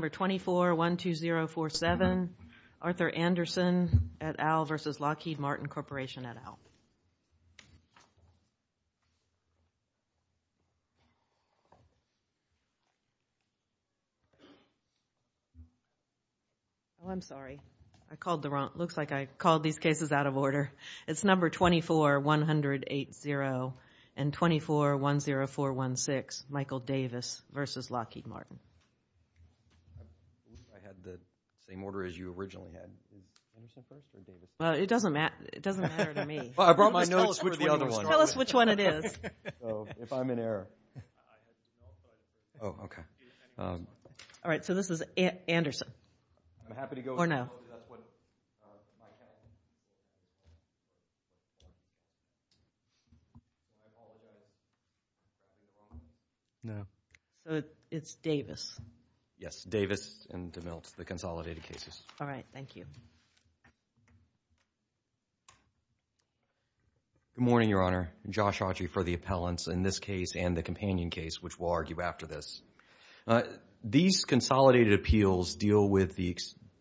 2412047, Arthur Anderson et al. v. Lockheed Martin Corporation et al. I'm sorry. Looks like I called these cases out of order. It's number 24180 and 2410416, Michael Davis v. Lockheed Martin. I had the same order as you originally had. Well, it doesn't matter to me. I brought my notes for the other one. Tell us which one it is. If I'm in error. Oh, okay. All right, so this is Anderson. I'm happy to go. Or no. No. So it's Davis. Yes, Davis and DeMilt, the consolidated cases. All right, thank you. Good morning, Your Honor. Josh Autry for the appellants in this case and the companion case, which we'll argue after this. These consolidated appeals deal with the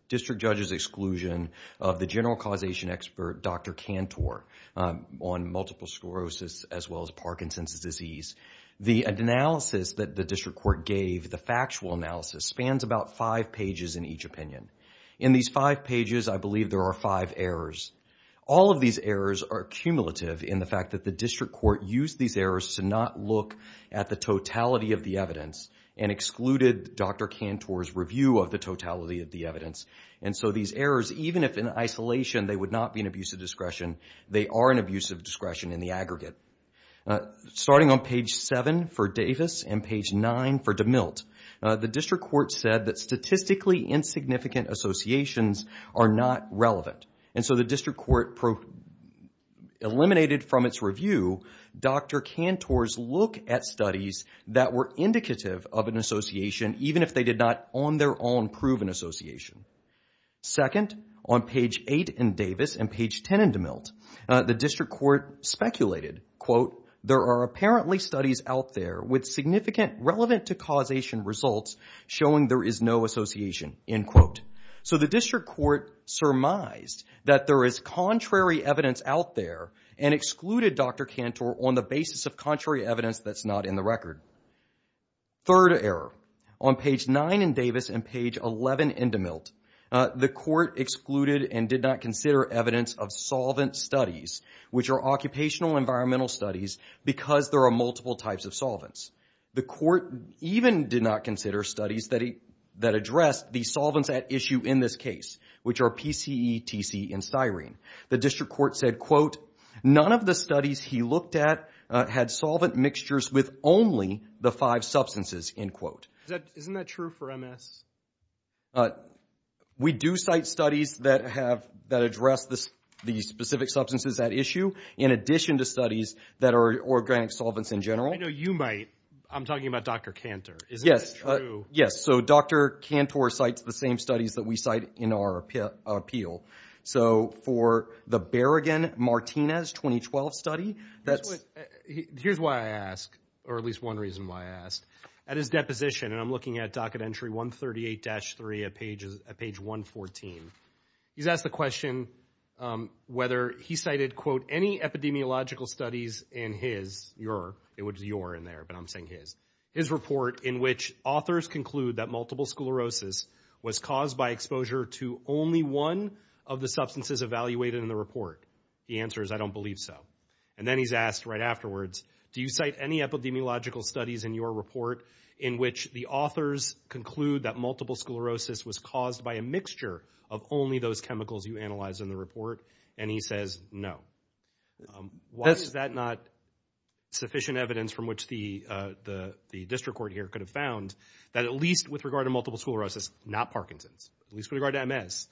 district judge's exclusion of the general causation expert, Dr. Cantor, on multiple sclerosis as well as Parkinson's disease. The analysis that the district court gave, the factual analysis, spans about five pages in each opinion. In these five pages, I believe there are five errors. All of these errors are cumulative in the fact that the district court used these errors to not look at the totality of the evidence and excluded Dr. Cantor's review of the totality of the evidence. And so these errors, even if in isolation they would not be an abusive discretion, they are an abusive discretion in the aggregate. Starting on page 7 for Davis and page 9 for DeMilt, the district court said that statistically insignificant associations are not relevant. And so the district court eliminated from its review Dr. Cantor's look at studies that were indicative of an association, even if they did not on their own prove an association. Second, on page 8 in Davis and page 10 in DeMilt, the district court speculated, quote, there are apparently studies out there with significant relevant to causation results showing there is no association, end quote. So the district court surmised that there is contrary evidence out there and excluded Dr. Cantor on the basis of contrary evidence that's not in the record. Third error, on page 9 in Davis and page 11 in DeMilt, the court excluded and did not consider evidence of solvent studies, which are occupational environmental studies, because there are multiple types of solvents. The court even did not consider studies that addressed the solvents at issue in this case, which are PCE, TC, and styrene. The district court said, quote, none of the studies he looked at had solvent mixtures with only the five substances, end quote. Isn't that true for MS? We do cite studies that address the specific substances at issue, in addition to studies that are organic solvents in general. I know you might. I'm talking about Dr. Cantor. Yes. Yes, so Dr. Cantor cites the same studies that we cite in our appeal. So for the Berrigan-Martinez 2012 study, that's... Here's why I asked, or at least one reason why I asked. At his deposition, and I'm looking at docket entry 138-3 at page 114, he's asked the question whether he cited, quote, any epidemiological studies in his, your, it was your in there, but I'm saying his, his report in which authors conclude that multiple sclerosis was caused by exposure to only one of the substances evaluated in the report. The answer is I don't believe so. And then he's asked right afterwards, do you cite any epidemiological studies in your report in which the authors conclude that multiple sclerosis was caused by a mixture of only those chemicals you analyzed in the report? And he says no. Why is that not sufficient evidence from which the district court here could have found that at least with regard to multiple sclerosis, not Parkinson's, at least with regard to MS,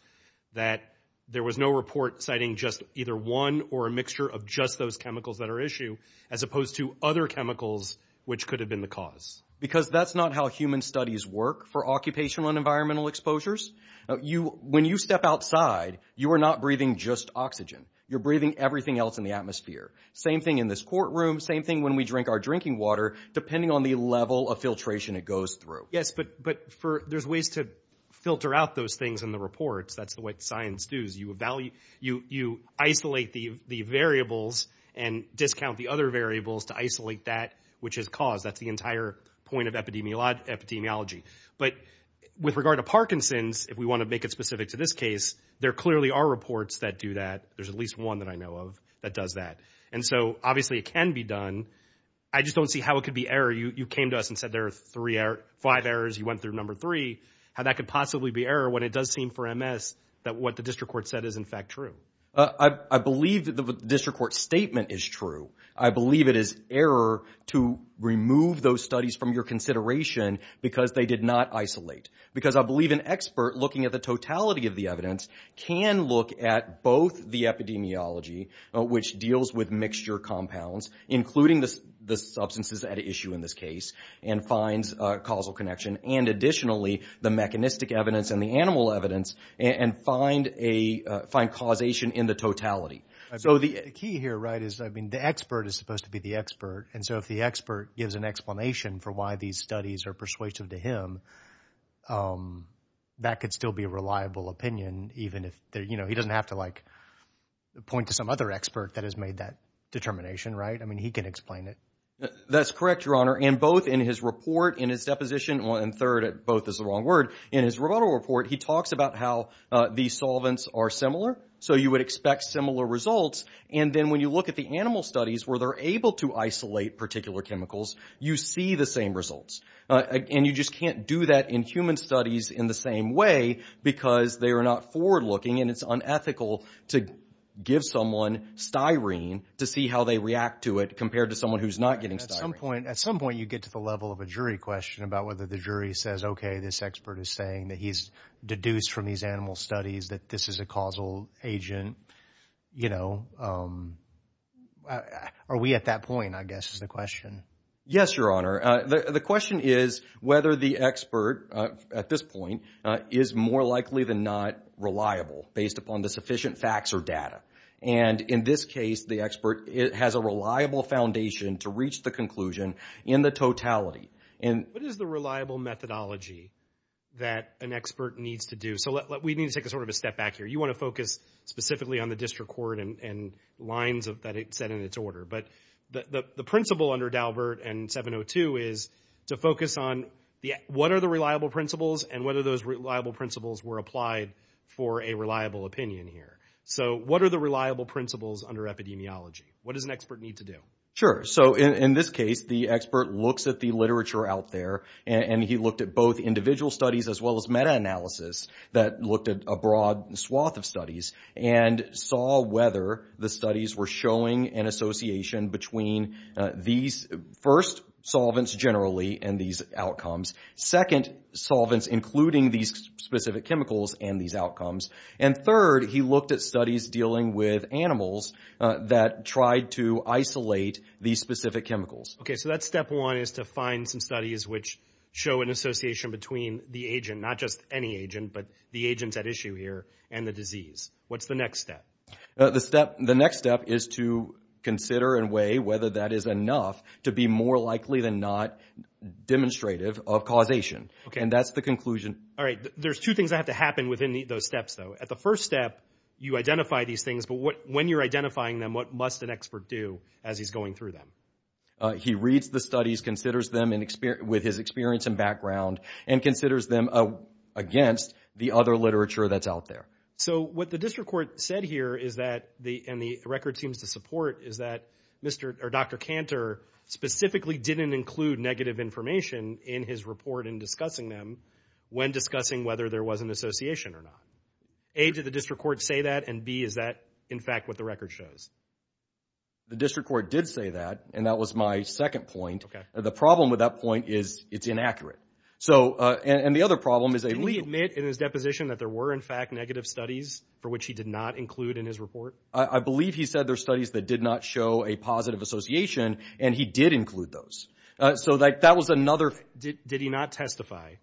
that there was no report citing just either one or a mixture of just those chemicals that are issued as opposed to other chemicals which could have been the cause? Because that's not how human studies work for occupational and environmental exposures. You, when you step outside, you are not breathing just oxygen. You're breathing everything else in the atmosphere. Same thing in this courtroom, same thing when we drink our drinking water, depending on the level of filtration it goes through. Yes, but, but for, there's ways to filter out those things in the reports. That's the way science does. You isolate the variables and discount the other variables to isolate that which is caused. That's the entire point of epidemiology. But with regard to Parkinson's, if we want to make it specific to this case, there clearly are reports that do that. There's at least one that I know of that does that. And so obviously it can be done. I just don't see how it could be error. You came to us and said there are five errors. You went through number three. I don't see how that could possibly be error when it does seem for MS that what the district court said is in fact true. I believe that the district court statement is true. I believe it is error to remove those studies from your consideration because they did not isolate. Because I believe an expert looking at the totality of the evidence can look at both the epidemiology, which deals with mixture compounds, including the substances at issue in this case, and finds causal connection and additionally the mechanistic evidence and the animal evidence and find causation in the totality. So the key here, right, is the expert is supposed to be the expert. And so if the expert gives an explanation for why these studies are persuasive to him, that could still be a reliable opinion even if he doesn't have to, like, point to some other expert that has made that determination, right? I mean he can explain it. That's correct, Your Honor. And both in his report, in his deposition, and third, both is the wrong word, in his rebuttal report he talks about how these solvents are similar. So you would expect similar results. And then when you look at the animal studies where they're able to isolate particular chemicals, you see the same results. And you just can't do that in human studies in the same way because they are not forward-looking and it's unethical to give someone styrene to see how they react to it compared to someone who's not getting styrene. At some point you get to the level of a jury question about whether the jury says, okay, this expert is saying that he's deduced from these animal studies that this is a causal agent. You know, are we at that point, I guess, is the question. Yes, Your Honor. The question is whether the expert at this point is more likely than not reliable based upon the sufficient facts or data. And in this case the expert has a reliable foundation to reach the conclusion in the totality. What is the reliable methodology that an expert needs to do? So we need to take sort of a step back here. You want to focus specifically on the district court and lines that it set in its order. But the principle under Daubert and 702 is to focus on what are the reliable principles and whether those reliable principles were applied for a reliable opinion here. So what are the reliable principles under epidemiology? What does an expert need to do? Sure. So in this case the expert looks at the literature out there and he looked at both individual studies as well as meta-analysis that looked at a broad swath of studies and saw whether the studies were showing an association between these, first, solvents generally and these outcomes, second, solvents including these specific chemicals and these outcomes, and third, he looked at studies dealing with animals that tried to isolate these specific chemicals. Okay. So that's step one is to find some studies which show an association between the agent, not just any agent, but the agents at issue here, and the disease. What's the next step? The next step is to consider and weigh whether that is enough to be more likely than not demonstrative of causation. And that's the conclusion. All right. There's two things that have to happen within those steps, though. At the first step you identify these things, but when you're identifying them what must an expert do as he's going through them? He reads the studies, considers them with his experience and background, and considers them against the other literature that's out there. So what the district court said here is that, and the record seems to support, is that Dr. Cantor specifically didn't include negative information in his report in discussing them when discussing whether there was an association or not. A, did the district court say that, and B, is that, in fact, what the record shows? The district court did say that, and that was my second point. Okay. The problem with that point is it's inaccurate. And the other problem is a rule. Did he admit in his deposition that there were, in fact, negative studies for which he did not include in his report? I believe he said there are studies that did not show a positive association, and he did include those. So that was another. Did he not testify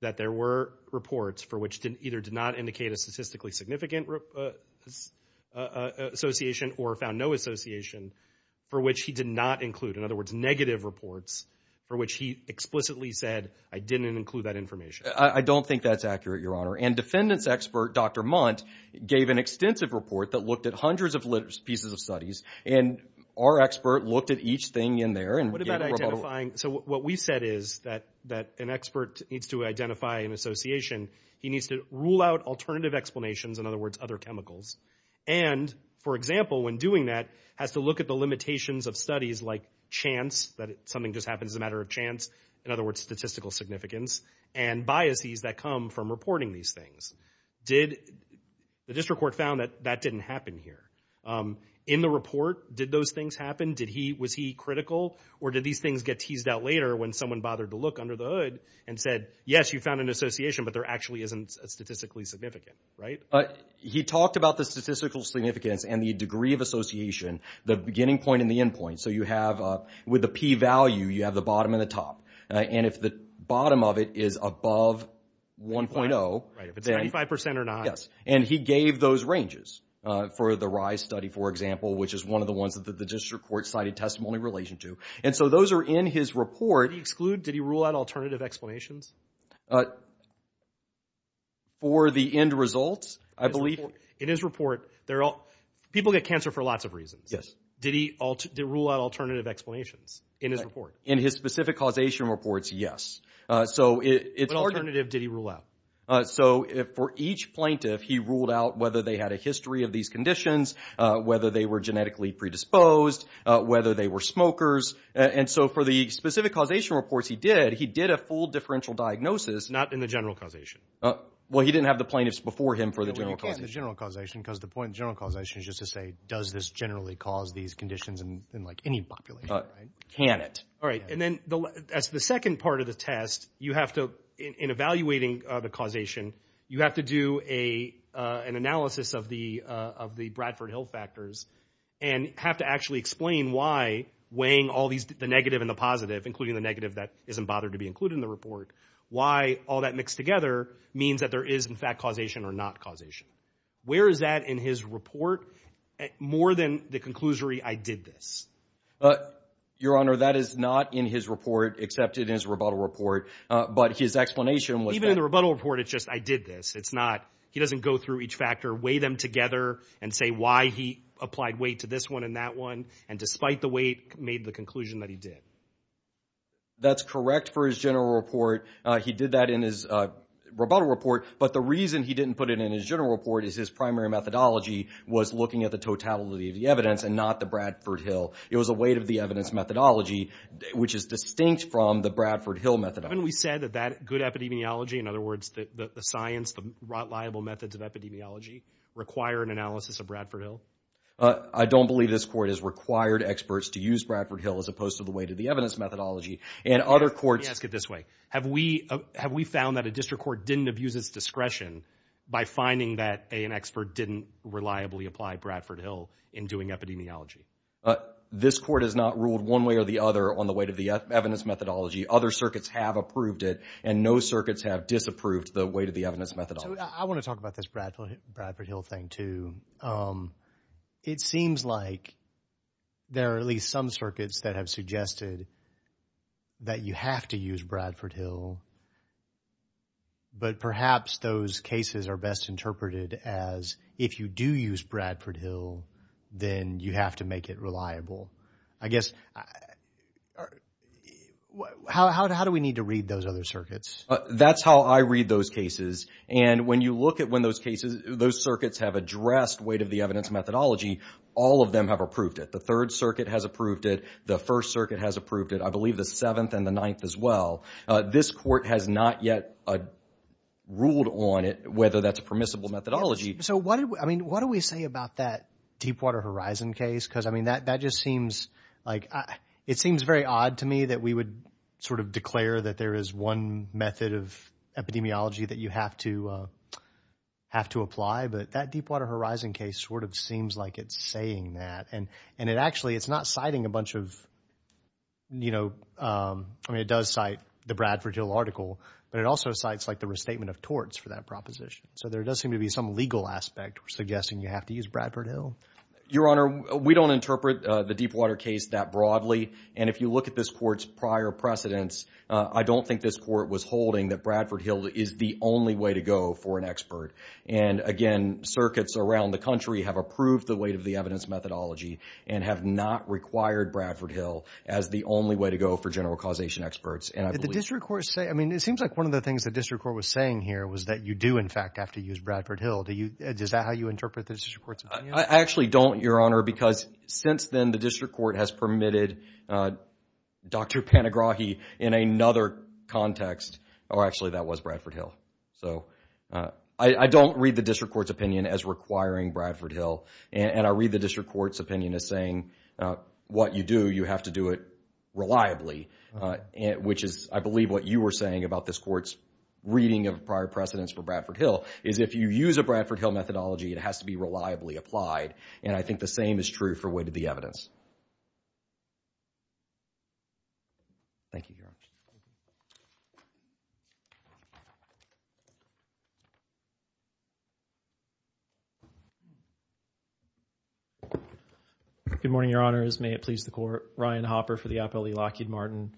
that there were reports for which either did not indicate a statistically significant association or found no association for which he did not include? In other words, negative reports for which he explicitly said, I didn't include that information. I don't think that's accurate, Your Honor. And defendants expert, Dr. Mundt, gave an extensive report that looked at hundreds of pieces of studies, and our expert looked at each thing in there and gave a rebuttal. So what we said is that an expert needs to identify an association. He needs to rule out alternative explanations, in other words, other chemicals. And, for example, when doing that, has to look at the limitations of studies like chance, that something just happens as a matter of chance, in other words, statistical significance, and biases that come from reporting these things. The district court found that that didn't happen here. In the report, did those things happen? Was he critical, or did these things get teased out later when someone bothered to look under the hood and said, yes, you found an association, but there actually isn't a statistically significant, right? He talked about the statistical significance and the degree of association, the beginning point and the end point. So you have, with the p-value, you have the bottom and the top. And if the bottom of it is above 1.0... Right, if it's 95% or not... Yes, and he gave those ranges for the RISE study, for example, which is one of the ones that the district court cited testimony in relation to. And so those are in his report... Did he exclude, did he rule out alternative explanations? For the end results, I believe... In his report, people get cancer for lots of reasons. Did he rule out alternative explanations in his report? In his specific causation reports, yes. But alternative, did he rule out? So for each plaintiff, he ruled out whether they had a history of these conditions, whether they were genetically predisposed, whether they were smokers. And so for the specific causation reports he did, he did a full differential diagnosis... Not in the general causation? Well, he didn't have the plaintiffs before him for the general causation. Because the point of general causation is just to say, does this generally cause these conditions in, like, any population? Can it? All right, and then as the second part of the test, you have to, in evaluating the causation, you have to do an analysis of the Bradford Hill factors and have to actually explain why weighing all these, the negative and the positive, including the negative that isn't bothered to be included in the report, why all that mixed together means that there is, in fact, causation or not causation. Where is that in his report? More than the conclusory, I did this. Your Honor, that is not in his report, except it is a rebuttal report. But his explanation was that... Even in the rebuttal report, it's just, I did this. It's not, he doesn't go through each factor, weigh them together and say why he applied weight to this one and that one, and despite the weight, made the conclusion that he did. That's correct for his general report. He did that in his rebuttal report, but the reason he didn't put it in his general report is his primary methodology was looking at the totality of the evidence and not the Bradford Hill. It was the weight of the evidence methodology, which is distinct from the Bradford Hill methodology. Haven't we said that good epidemiology, in other words, the science, the reliable methods of epidemiology, require an analysis of Bradford Hill? I don't believe this Court has required experts to use Bradford Hill as opposed to the weight of the evidence methodology, and other courts... Let me ask it this way. Have we found that a district court didn't abuse its discretion by finding that an expert didn't reliably apply Bradford Hill in doing epidemiology? This Court has not ruled one way or the other on the weight of the evidence methodology. Other circuits have approved it, and no circuits have disapproved the weight of the evidence methodology. I want to talk about this Bradford Hill thing, too. It seems like there are at least some circuits that have suggested that you have to use Bradford Hill, but perhaps those cases are best interpreted as if you do use Bradford Hill, then you have to make it reliable. I guess... How do we need to read those other circuits? That's how I read those cases, and when you look at when those circuits have addressed weight of the evidence methodology, all of them have approved it. The Third Circuit has approved it. The First Circuit has approved it. I believe the Seventh and the Ninth as well. This Court has not yet ruled on it, whether that's a permissible methodology. What do we say about that Deepwater Horizon case? That just seems... It seems very odd to me that we would sort of declare that there is one method of epidemiology that you have to apply, but that Deepwater Horizon case sort of seems like it's saying that, and it actually is not citing a bunch of... I mean, it does cite the Bradford Hill article, but it also cites the restatement of torts for that proposition, so there does seem to be some legal aspect suggesting you have to use Bradford Hill. Your Honor, we don't interpret the Deepwater case that broadly, and if you look at this Court's prior precedents, I don't think this Court was holding that Bradford Hill is the only way to go for an expert. And, again, circuits around the country have approved the weight of the evidence methodology and have not required Bradford Hill as the only way to go for general causation experts. Did the district court say... I mean, it seems like one of the things the district court was saying here was that you do, in fact, have to use Bradford Hill. Is that how you interpret the district court's opinion? I actually don't, Your Honor, because since then the district court has permitted Dr. Panagrahi in another context. Oh, actually, that was Bradford Hill. So I don't read the district court's opinion as requiring Bradford Hill, and I read the district court's opinion as saying what you do, you have to do it reliably, which is, I believe, what you were saying about this Court's reading of prior precedents for Bradford Hill, is if you use a Bradford Hill methodology, it has to be reliably applied. And I think the same is true for weight of the evidence. Thank you, Your Honor. Good morning, Your Honors. May it please the Court. Ryan Hopper for the Appellee Lockheed Martin.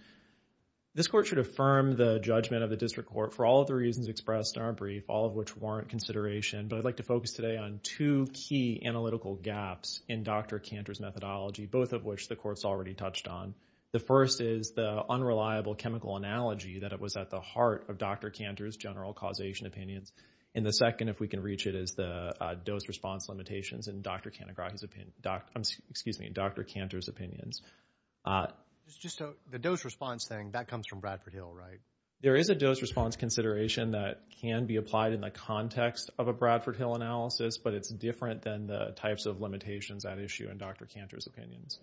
This Court should affirm the judgment of the district court for all of the reasons expressed in our brief, all of which warrant consideration, but I'd like to focus today on two key analytical gaps in Dr. Cantor's methodology, both of which the Court's already touched on. The first is the unreliable chemical analogy that it was at the heart of Dr. Cantor's general causation opinions, and the second, if we can reach it, is the dose response limitations in Dr. Cantor's opinions. It's just the dose response thing, that comes from Bradford Hill, right? There is a dose response consideration that can be applied in the context of a Bradford Hill analysis, but it's different than the types of limitations at issue in Dr. Cantor's opinions.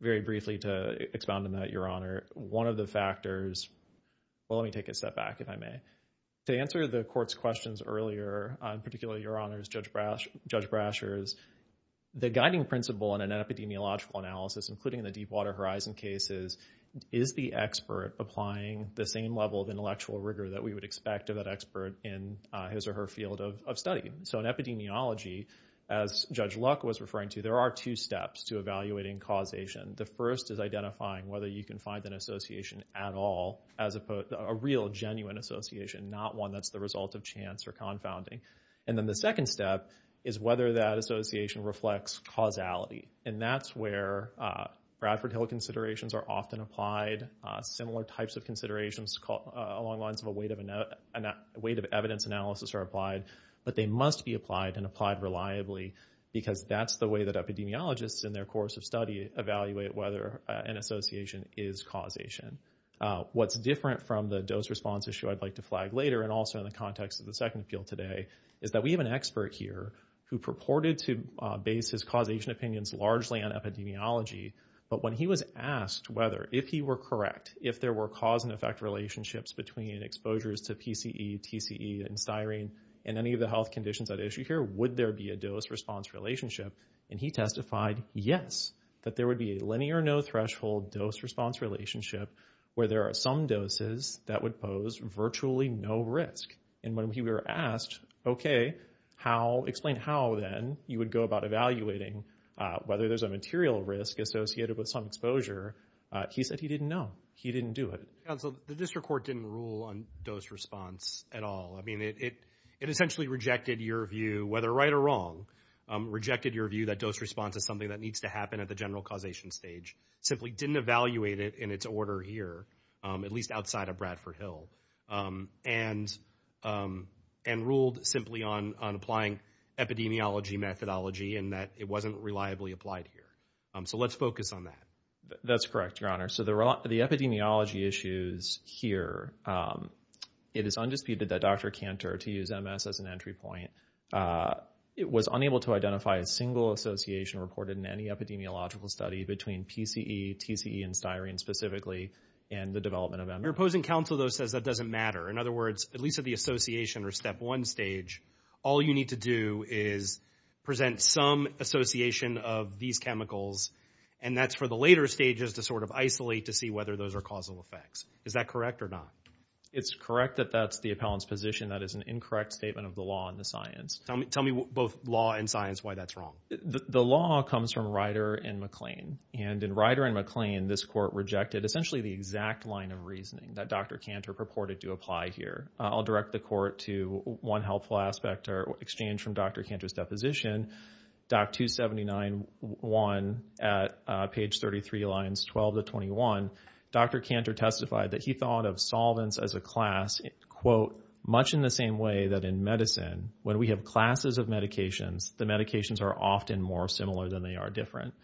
Very briefly to expound on that, Your Honor, one of the factors, well, let me take a step back, if I may. To answer the Court's questions earlier, particularly Your Honors, Judge Brasher's, the guiding principle in an epidemiological analysis, including the Deepwater Horizon cases, is the expert applying the same level of intellectual rigor that we would expect of that expert in his or her field of study. So in epidemiology, as Judge Luck was referring to, there are two steps to evaluating causation. The first is identifying whether you can find an association at all, a real, genuine association, not one that's the result of chance or confounding. And then the second step is whether that association reflects causality, and that's where Bradford Hill considerations are often applied. Similar types of considerations along the lines of a weight of evidence analysis are applied, but they must be applied and applied reliably because that's the way that epidemiologists, in their course of study, evaluate whether an association is causation. What's different from the dose response issue I'd like to flag later, and also in the context of the second field today, is that we have an expert here who purported to base his causation opinions largely on epidemiology, but when he was asked whether, if he were correct, if there were cause-and-effect relationships between exposures to PCE, TCE, and styrene and any of the health conditions at issue here, would there be a dose-response relationship, and he testified yes, that there would be a linear no-threshold dose-response relationship where there are some doses that would pose virtually no risk. And when he were asked, okay, explain how then you would go about evaluating whether there's a material risk associated with some exposure, he said he didn't know. He didn't do it. Council, the district court didn't rule on dose-response at all. I mean, it essentially rejected your view, whether right or wrong, rejected your view that dose-response is something that needs to happen at the general causation stage, simply didn't evaluate it in its order here, at least outside of Bradford Hill. And ruled simply on applying epidemiology methodology and that it wasn't reliably applied here. So let's focus on that. That's correct, Your Honor. So the epidemiology issues here, it is undisputed that Dr. Kantor, to use MS as an entry point, was unable to identify a single association reported in any epidemiological study between PCE, TCE, and styrene specifically in the development of MS. Your opposing counsel, though, says that doesn't matter. In other words, at least at the association or step one stage, all you need to do is present some association of these chemicals, and that's for the later stages to sort of isolate to see whether those are causal effects. Is that correct or not? It's correct that that's the appellant's position. That is an incorrect statement of the law and the science. Tell me both law and science why that's wrong. The law comes from Ryder and McLean, and in Ryder and McLean, this court rejected essentially the exact line of reasoning that Dr. Kantor purported to apply here. I'll direct the court to one helpful aspect, or exchange from Dr. Kantor's deposition, Doc 279.1 at page 33, lines 12 to 21. Dr. Kantor testified that he thought of solvents as a class, quote, much in the same way that in medicine, when we have classes of medications, the medications are often more similar than they are different.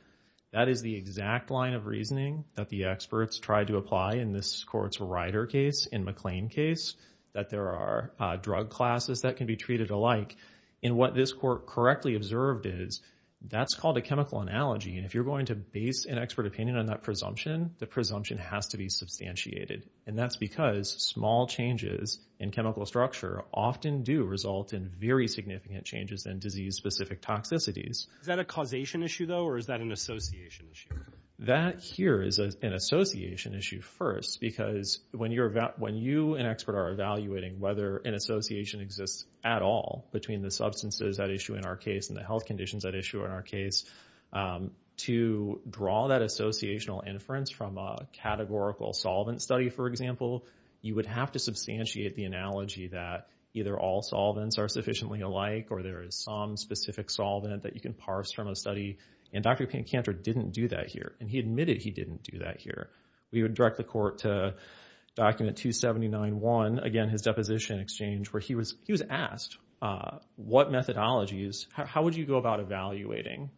That is the exact line of reasoning that the experts tried to apply in this court's Ryder case, in McLean case, that there are drug classes that can be treated alike. And what this court correctly observed is, that's called a chemical analogy, and if you're going to base an expert opinion on that presumption, the presumption has to be substantiated. And that's because small changes in chemical structure often do result in very significant changes in disease-specific toxicities. Is that a causation issue, though, or is that an association issue? That here is an association issue first, because when you and expert are evaluating whether an association exists at all between the substances at issue in our case and the health conditions at issue in our case, to draw that associational inference from a categorical solvent study, for example, you would have to substantiate the analogy that either all solvents are sufficiently alike, or there is some specific solvent that you can parse from a study, and Dr. Pancanter didn't do that here, and he admitted he didn't do that here. We would direct the court to document 279-1, again, his deposition exchange, where he was asked, what methodologies, how would you go about evaluating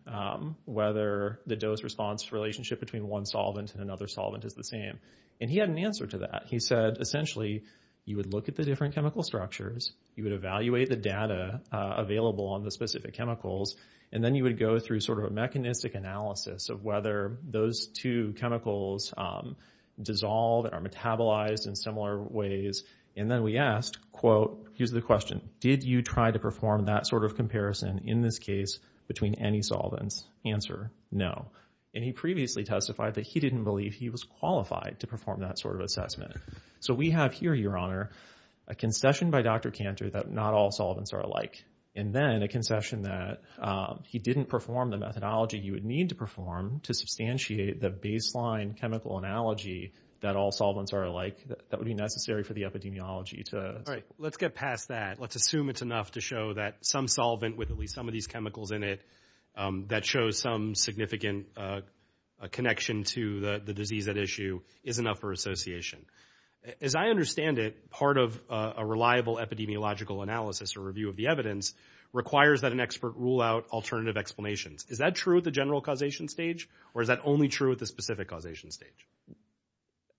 whether the dose-response relationship between one solvent and another solvent is the same? And he had an answer to that. He said, essentially, you would look at the different chemical structures, you would evaluate the data available on the specific chemicals, and then you would go through sort of a mechanistic analysis of whether those two chemicals dissolve and are metabolized in similar ways, and then we asked, quote, here's the question, did you try to perform that sort of comparison in this case between any solvents? Answer, no. And he previously testified that he didn't believe he was qualified to perform that sort of assessment. So we have here, Your Honor, a concession by Dr. Pancanter that not all solvents are alike, and then a concession that he didn't perform the methodology you would need to perform to substantiate the baseline chemical analogy that all solvents are alike that would be necessary for the epidemiology to... All right, let's get past that. Let's assume it's enough to show that some solvent with at least some of these chemicals in it that shows some significant connection to the disease at issue is enough for association. As I understand it, part of a reliable epidemiological analysis or review of the evidence requires that an expert rule out alternative explanations. Is that true at the general causation stage or is that only true at the specific causation stage?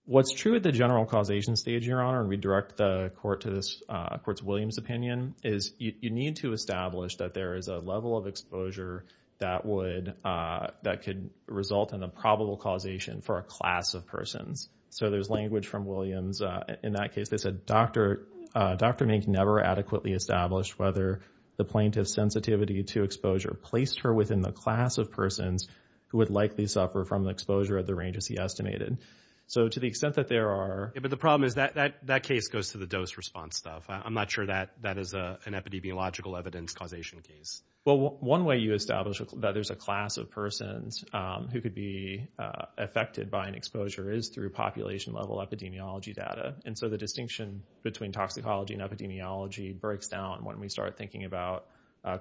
What's true at the general causation stage, Your Honor, and we direct the court to this... Court's Williams opinion, is you need to establish that there is a level of exposure that would... for a class of persons. So there's language from Williams. In that case, they said, Dr. Mink never adequately established whether the plaintiff's sensitivity to exposure placed her within the class of persons who would likely suffer from exposure at the range as he estimated. So to the extent that there are... Yeah, but the problem is that case goes to the dose response stuff. I'm not sure that that is an epidemiological evidence causation case. Well, one way you establish that there's a class of persons who could be affected by an exposure is through population-level epidemiology data. And so the distinction between toxicology and epidemiology breaks down when we start thinking about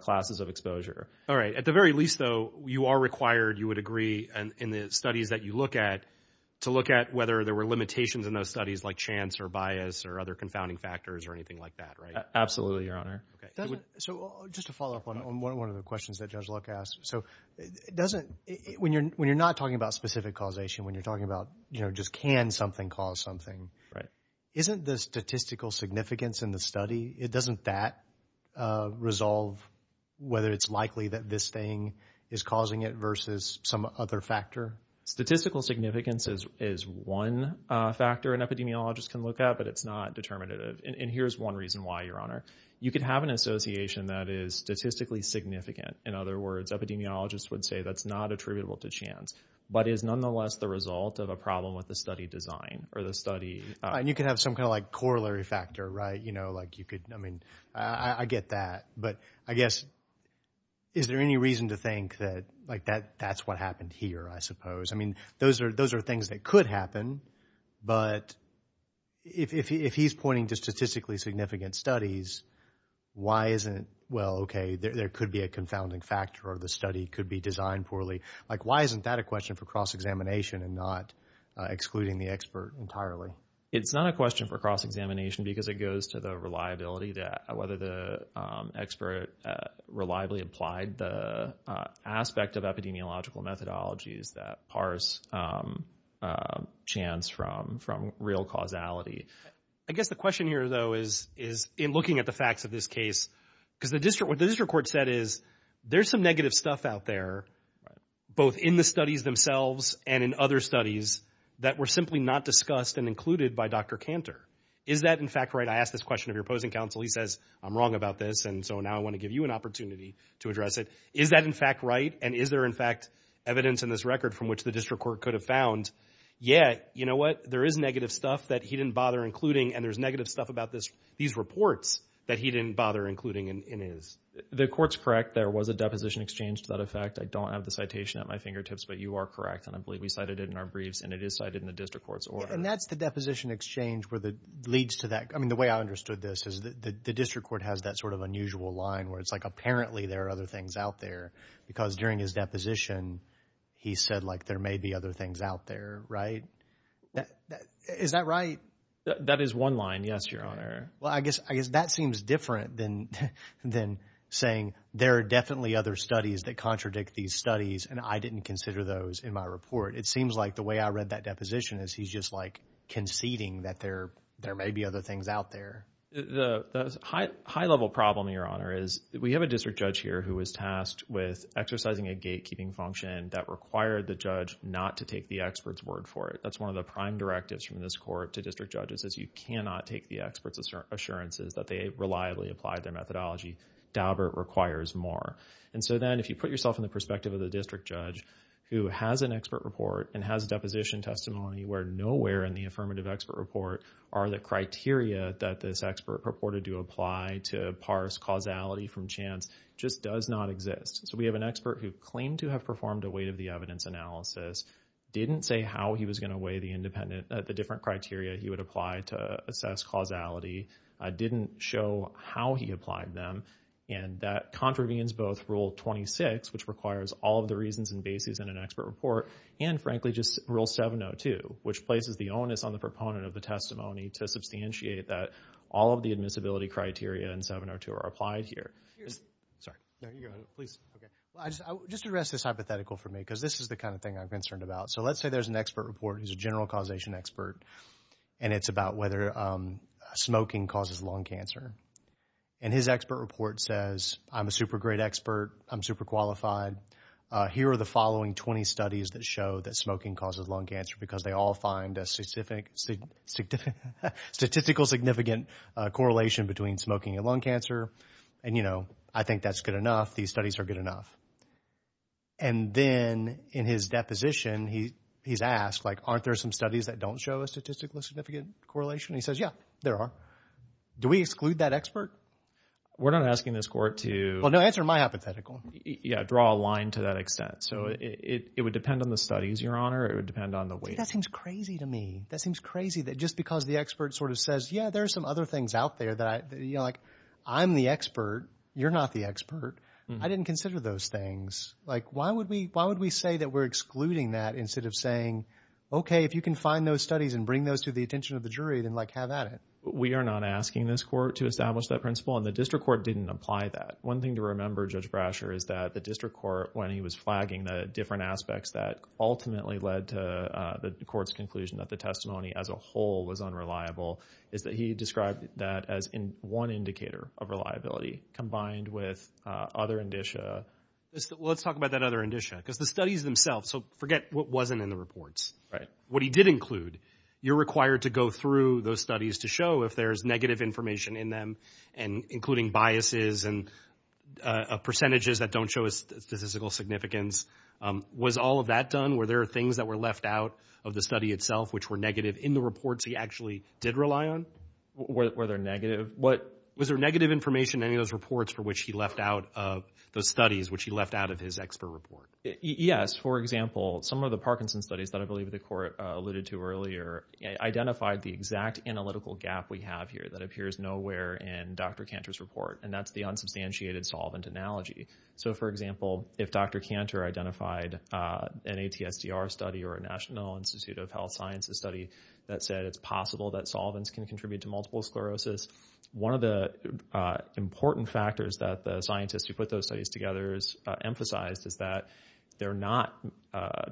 classes of exposure. All right, at the very least, though, you are required, you would agree, in the studies that you look at, to look at whether there were limitations in those studies like chance or bias or other confounding factors or anything like that, right? Absolutely, Your Honor. So just to follow up on one of the questions that Judge Luck asked. So when you're not talking about specific causation, when you're talking about, you know, just can something cause something, isn't the statistical significance in the study, doesn't that resolve whether it's likely that this thing is causing it versus some other factor? Statistical significance is one factor an epidemiologist can look at, but it's not determinative. And here's one reason why, Your Honor. You could have an association that is statistically significant. In other words, epidemiologists would say that's not attributable to chance, but is nonetheless the result of a problem with the study design or the study. And you could have some kind of like corollary factor, right? You know, like you could, I mean, I get that, but I guess, is there any reason to think that like that's what happened here, I suppose? I mean, those are things that could happen, but if he's pointing to statistically significant studies, why isn't, well, okay, there could be a confounding factor or the study could be designed poorly. Like, why isn't that a question for cross-examination and not excluding the expert entirely? It's not a question for cross-examination because it goes to the reliability, whether the expert reliably applied the aspect of epidemiological methodologies that parse chance from real causality. I guess the question here, though, is in looking at the facts of this case, because what the district court said is there's some negative stuff out there, both in the studies themselves and in other studies, that were simply not discussed and included by Dr. Kantor. Is that, in fact, right? I asked this question of your opposing counsel. He says, I'm wrong about this, and so now I want to give you an opportunity to address it. Is that, in fact, right? And is there, in fact, evidence in this record from which the district court could have found, yeah, you know what, there is negative stuff that he didn't bother including, and there's negative stuff about these reports that he didn't bother including in his? The court's correct. There was a deposition exchange to that effect. I don't have the citation at my fingertips, but you are correct, and I believe we cited it in our briefs, and it is cited in the district court's order. And that's the deposition exchange where it leads to that. I mean, the way I understood this is the district court has that sort of unusual line where it's like apparently there are other things out there because during his deposition, he said, like, there may be other things out there, right? Is that right? That is one line, yes, Your Honor. Well, I guess that seems different than saying there are definitely other studies that contradict these studies, and I didn't consider those in my report. It seems like the way I read that deposition is he's just, like, conceding that there may be other things out there. The high-level problem, Your Honor, is we have a district judge here who was tasked with exercising a gatekeeping function that required the judge not to take the expert's word for it. That's one of the prime directives from this court to district judges is you cannot take the expert's assurances that they reliably applied their methodology. Daubert requires more. And so then if you put yourself in the perspective of the district judge who has an expert report and has deposition testimony where nowhere in the affirmative expert report are the criteria that this expert purported to apply to parse causality from chance just does not exist. So we have an expert who claimed to have performed a weight-of-the-evidence analysis, didn't say how he was going to weigh the different criteria he would apply to assess causality, didn't show how he applied them, and that contravenes both Rule 26, which requires all of the reasons and bases in an expert report, and, frankly, just Rule 702, which places the onus on the proponent of the testimony to substantiate that all of the admissibility criteria in 702 are applied here. Sorry. No, you go ahead. Please. Okay. Just address this hypothetical for me because this is the kind of thing I'm concerned about. So let's say there's an expert report, he's a general causation expert, and it's about whether smoking causes lung cancer. And his expert report says, I'm a super great expert, I'm super qualified, here are the following 20 studies that show that smoking causes lung cancer because they all find a statistical significant correlation between smoking and lung cancer, and, you know, I think that's good enough, these studies are good enough. And then in his deposition, he's asked, like, aren't there some studies that don't show a statistically significant correlation? And he says, yeah, there are. Do we exclude that expert? We're not asking this court to... Well, no, answer my hypothetical. Yeah, draw a line to that extent. So it would depend on the studies, Your Honor, or it would depend on the weight. See, that seems crazy to me. That seems crazy that just because the expert sort of says, yeah, there are some other things out there that I, you know, like, I'm the expert, you're not the expert. I didn't consider those things. Like, why would we say that we're excluding that instead of saying, okay, if you can find those studies and bring those to the attention of the jury, then, like, have at it. We are not asking this court to establish that principle, and the district court didn't apply that. One thing to remember, Judge Brasher, is that the district court, when he was flagging the different aspects that ultimately led to the court's conclusion that the testimony as a whole was unreliable, is that he described that as one indicator of reliability combined with other indicia? Well, let's talk about that other indicia, because the studies themselves, so forget what wasn't in the reports. Right. What he did include. You're required to go through those studies to show if there's negative information in them, and including biases and percentages that don't show statistical significance. Was all of that done? Were there things that were left out of the study itself which were negative in the reports he actually did rely on? Were there negative? Was there negative information in any of those reports for which he left out of those studies which he left out of his expert report? Yes. For example, some of the Parkinson's studies that I believe the court alluded to earlier identified the exact analytical gap we have here that appears nowhere in Dr. Cantor's report, and that's the unsubstantiated solvent analogy. So, for example, if Dr. Cantor identified an ATSDR study or a National Institute of Health Sciences study that said it's possible that solvents can contribute to multiple sclerosis, one of the important factors that the scientists who put those studies together emphasized is that they're not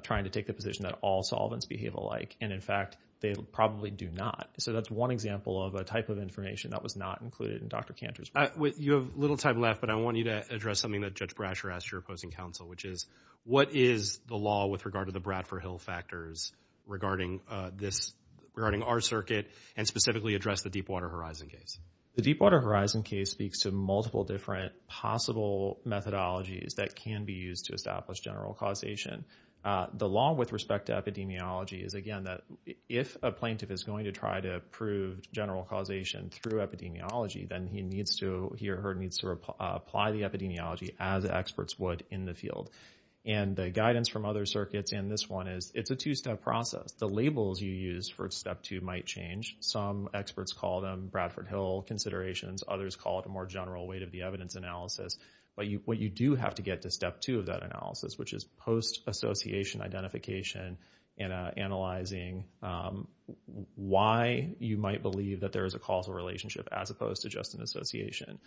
trying to take the position that all solvents behave alike, and, in fact, they probably do not. So that's one example of a type of information that was not included in Dr. Cantor's report. You have little time left, but I want you to address something that Judge Brasher asked your opposing counsel, which is what is the law with regard to the Bradford-Hill factors regarding our circuit and specifically address the Deepwater Horizon case? The Deepwater Horizon case speaks to multiple different possible methodologies that can be used to establish general causation. The law with respect to epidemiology is, again, that if a plaintiff is going to try to prove general causation through epidemiology, then he or her needs to apply the epidemiology as experts would in the field, and the guidance from other circuits in this one is it's a two-step process. The labels you use for step two might change. Some experts call them Bradford-Hill considerations. Others call it a more general weight-of-the-evidence analysis. But what you do have to get to step two of that analysis, which is post-association identification and analyzing why you might believe that there is a causal relationship as opposed to just an association.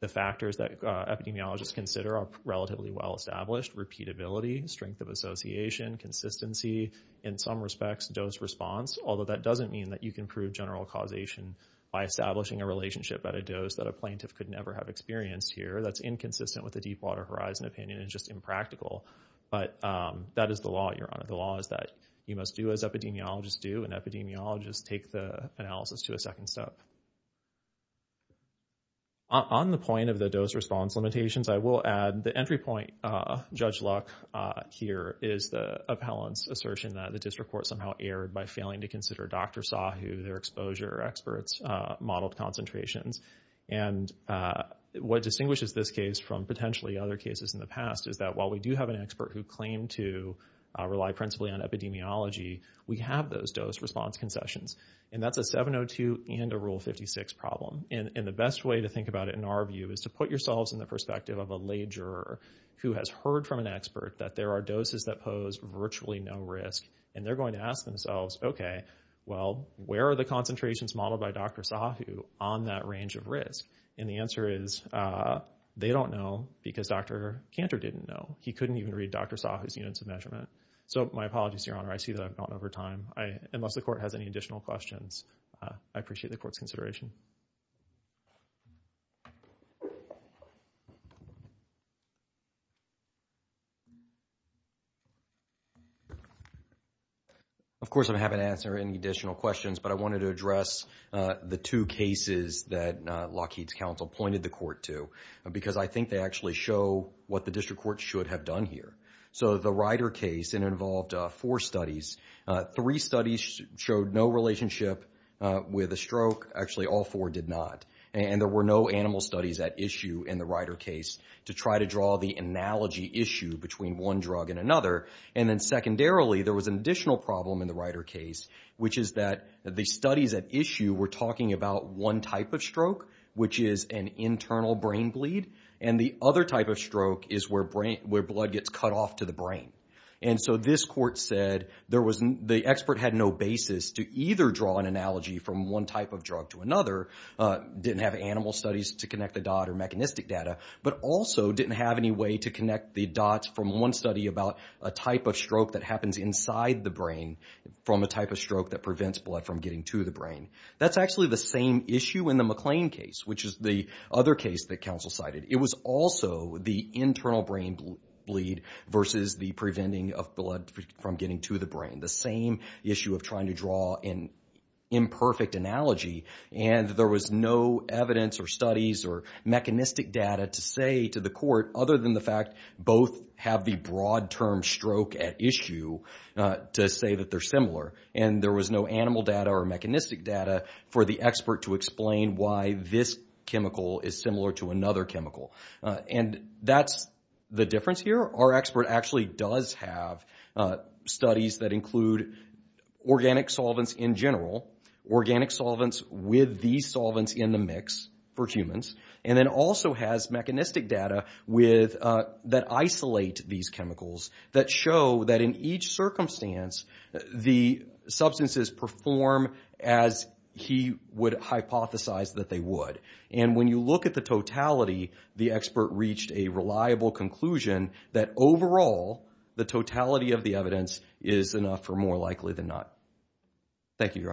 The factors that epidemiologists consider are relatively well-established, repeatability, strength of association, consistency. In some respects, dose-response, although that doesn't mean that you can prove general causation by establishing a relationship at a dose that a plaintiff could never have experienced here. That's inconsistent with the Deepwater Horizon opinion. It's just impractical. But that is the law, Your Honor. The law is that you must do as epidemiologists do, and epidemiologists take the analysis to a second step. On the point of the dose-response limitations, I will add the entry point, Judge Luck, here is the appellant's assertion that the district court somehow erred by failing to consider Dr. Sahu, their exposure experts' modeled concentrations. And what distinguishes this case from potentially other cases in the past is that while we do have an expert who claimed to rely principally on epidemiology, we have those dose-response concessions. And that's a 702 and a Rule 56 problem. And the best way to think about it, in our view, is to put yourselves in the perspective of a lay juror who has heard from an expert that there are doses that pose virtually no risk, and they're going to ask themselves, okay, well, where are the concentrations modeled by Dr. Sahu on that range of risk? And the answer is they don't know because Dr. Cantor didn't know. He couldn't even read Dr. Sahu's units of measurement. So my apologies, Your Honor. I see that I've gone over time. Unless the court has any additional questions, I appreciate the court's consideration. Thank you. Of course, I haven't answered any additional questions, but I wanted to address the two cases that Lockheed's counsel pointed the court to because I think they actually show what the district court should have done here. So the Ryder case, it involved four studies. Three studies showed no relationship with a stroke. Actually, all four did not. And there were no animal studies at issue in the Ryder case to try to draw the analogy issue between one drug and another. And then secondarily, there was an additional problem in the Ryder case, which is that the studies at issue were talking about one type of stroke, which is an internal brain bleed, and the other type of stroke is where blood gets cut off to the brain. And so this court said the expert had no basis to either draw an analogy from one type of drug to another, didn't have animal studies to connect the dot or mechanistic data, but also didn't have any way to connect the dots from one study about a type of stroke that happens inside the brain from a type of stroke that prevents blood from getting to the brain. That's actually the same issue in the McLean case, which is the other case that counsel cited. It was also the internal brain bleed versus the preventing of blood from getting to the brain, the same issue of trying to draw an imperfect analogy, and there was no evidence or studies or mechanistic data to say to the court, other than the fact both have the broad term stroke at issue to say that they're similar, and there was no animal data or mechanistic data for the expert to explain why this chemical is similar to another chemical. And that's the difference here. Our expert actually does have studies that include organic solvents in general, organic solvents with these solvents in the mix for humans, and then also has mechanistic data that isolate these chemicals that show that in each circumstance, the substances perform as he would hypothesize that they would. And when you look at the totality, the expert reached a reliable conclusion that overall the totality of the evidence is enough for more likely than not. Thank you, Your Honors.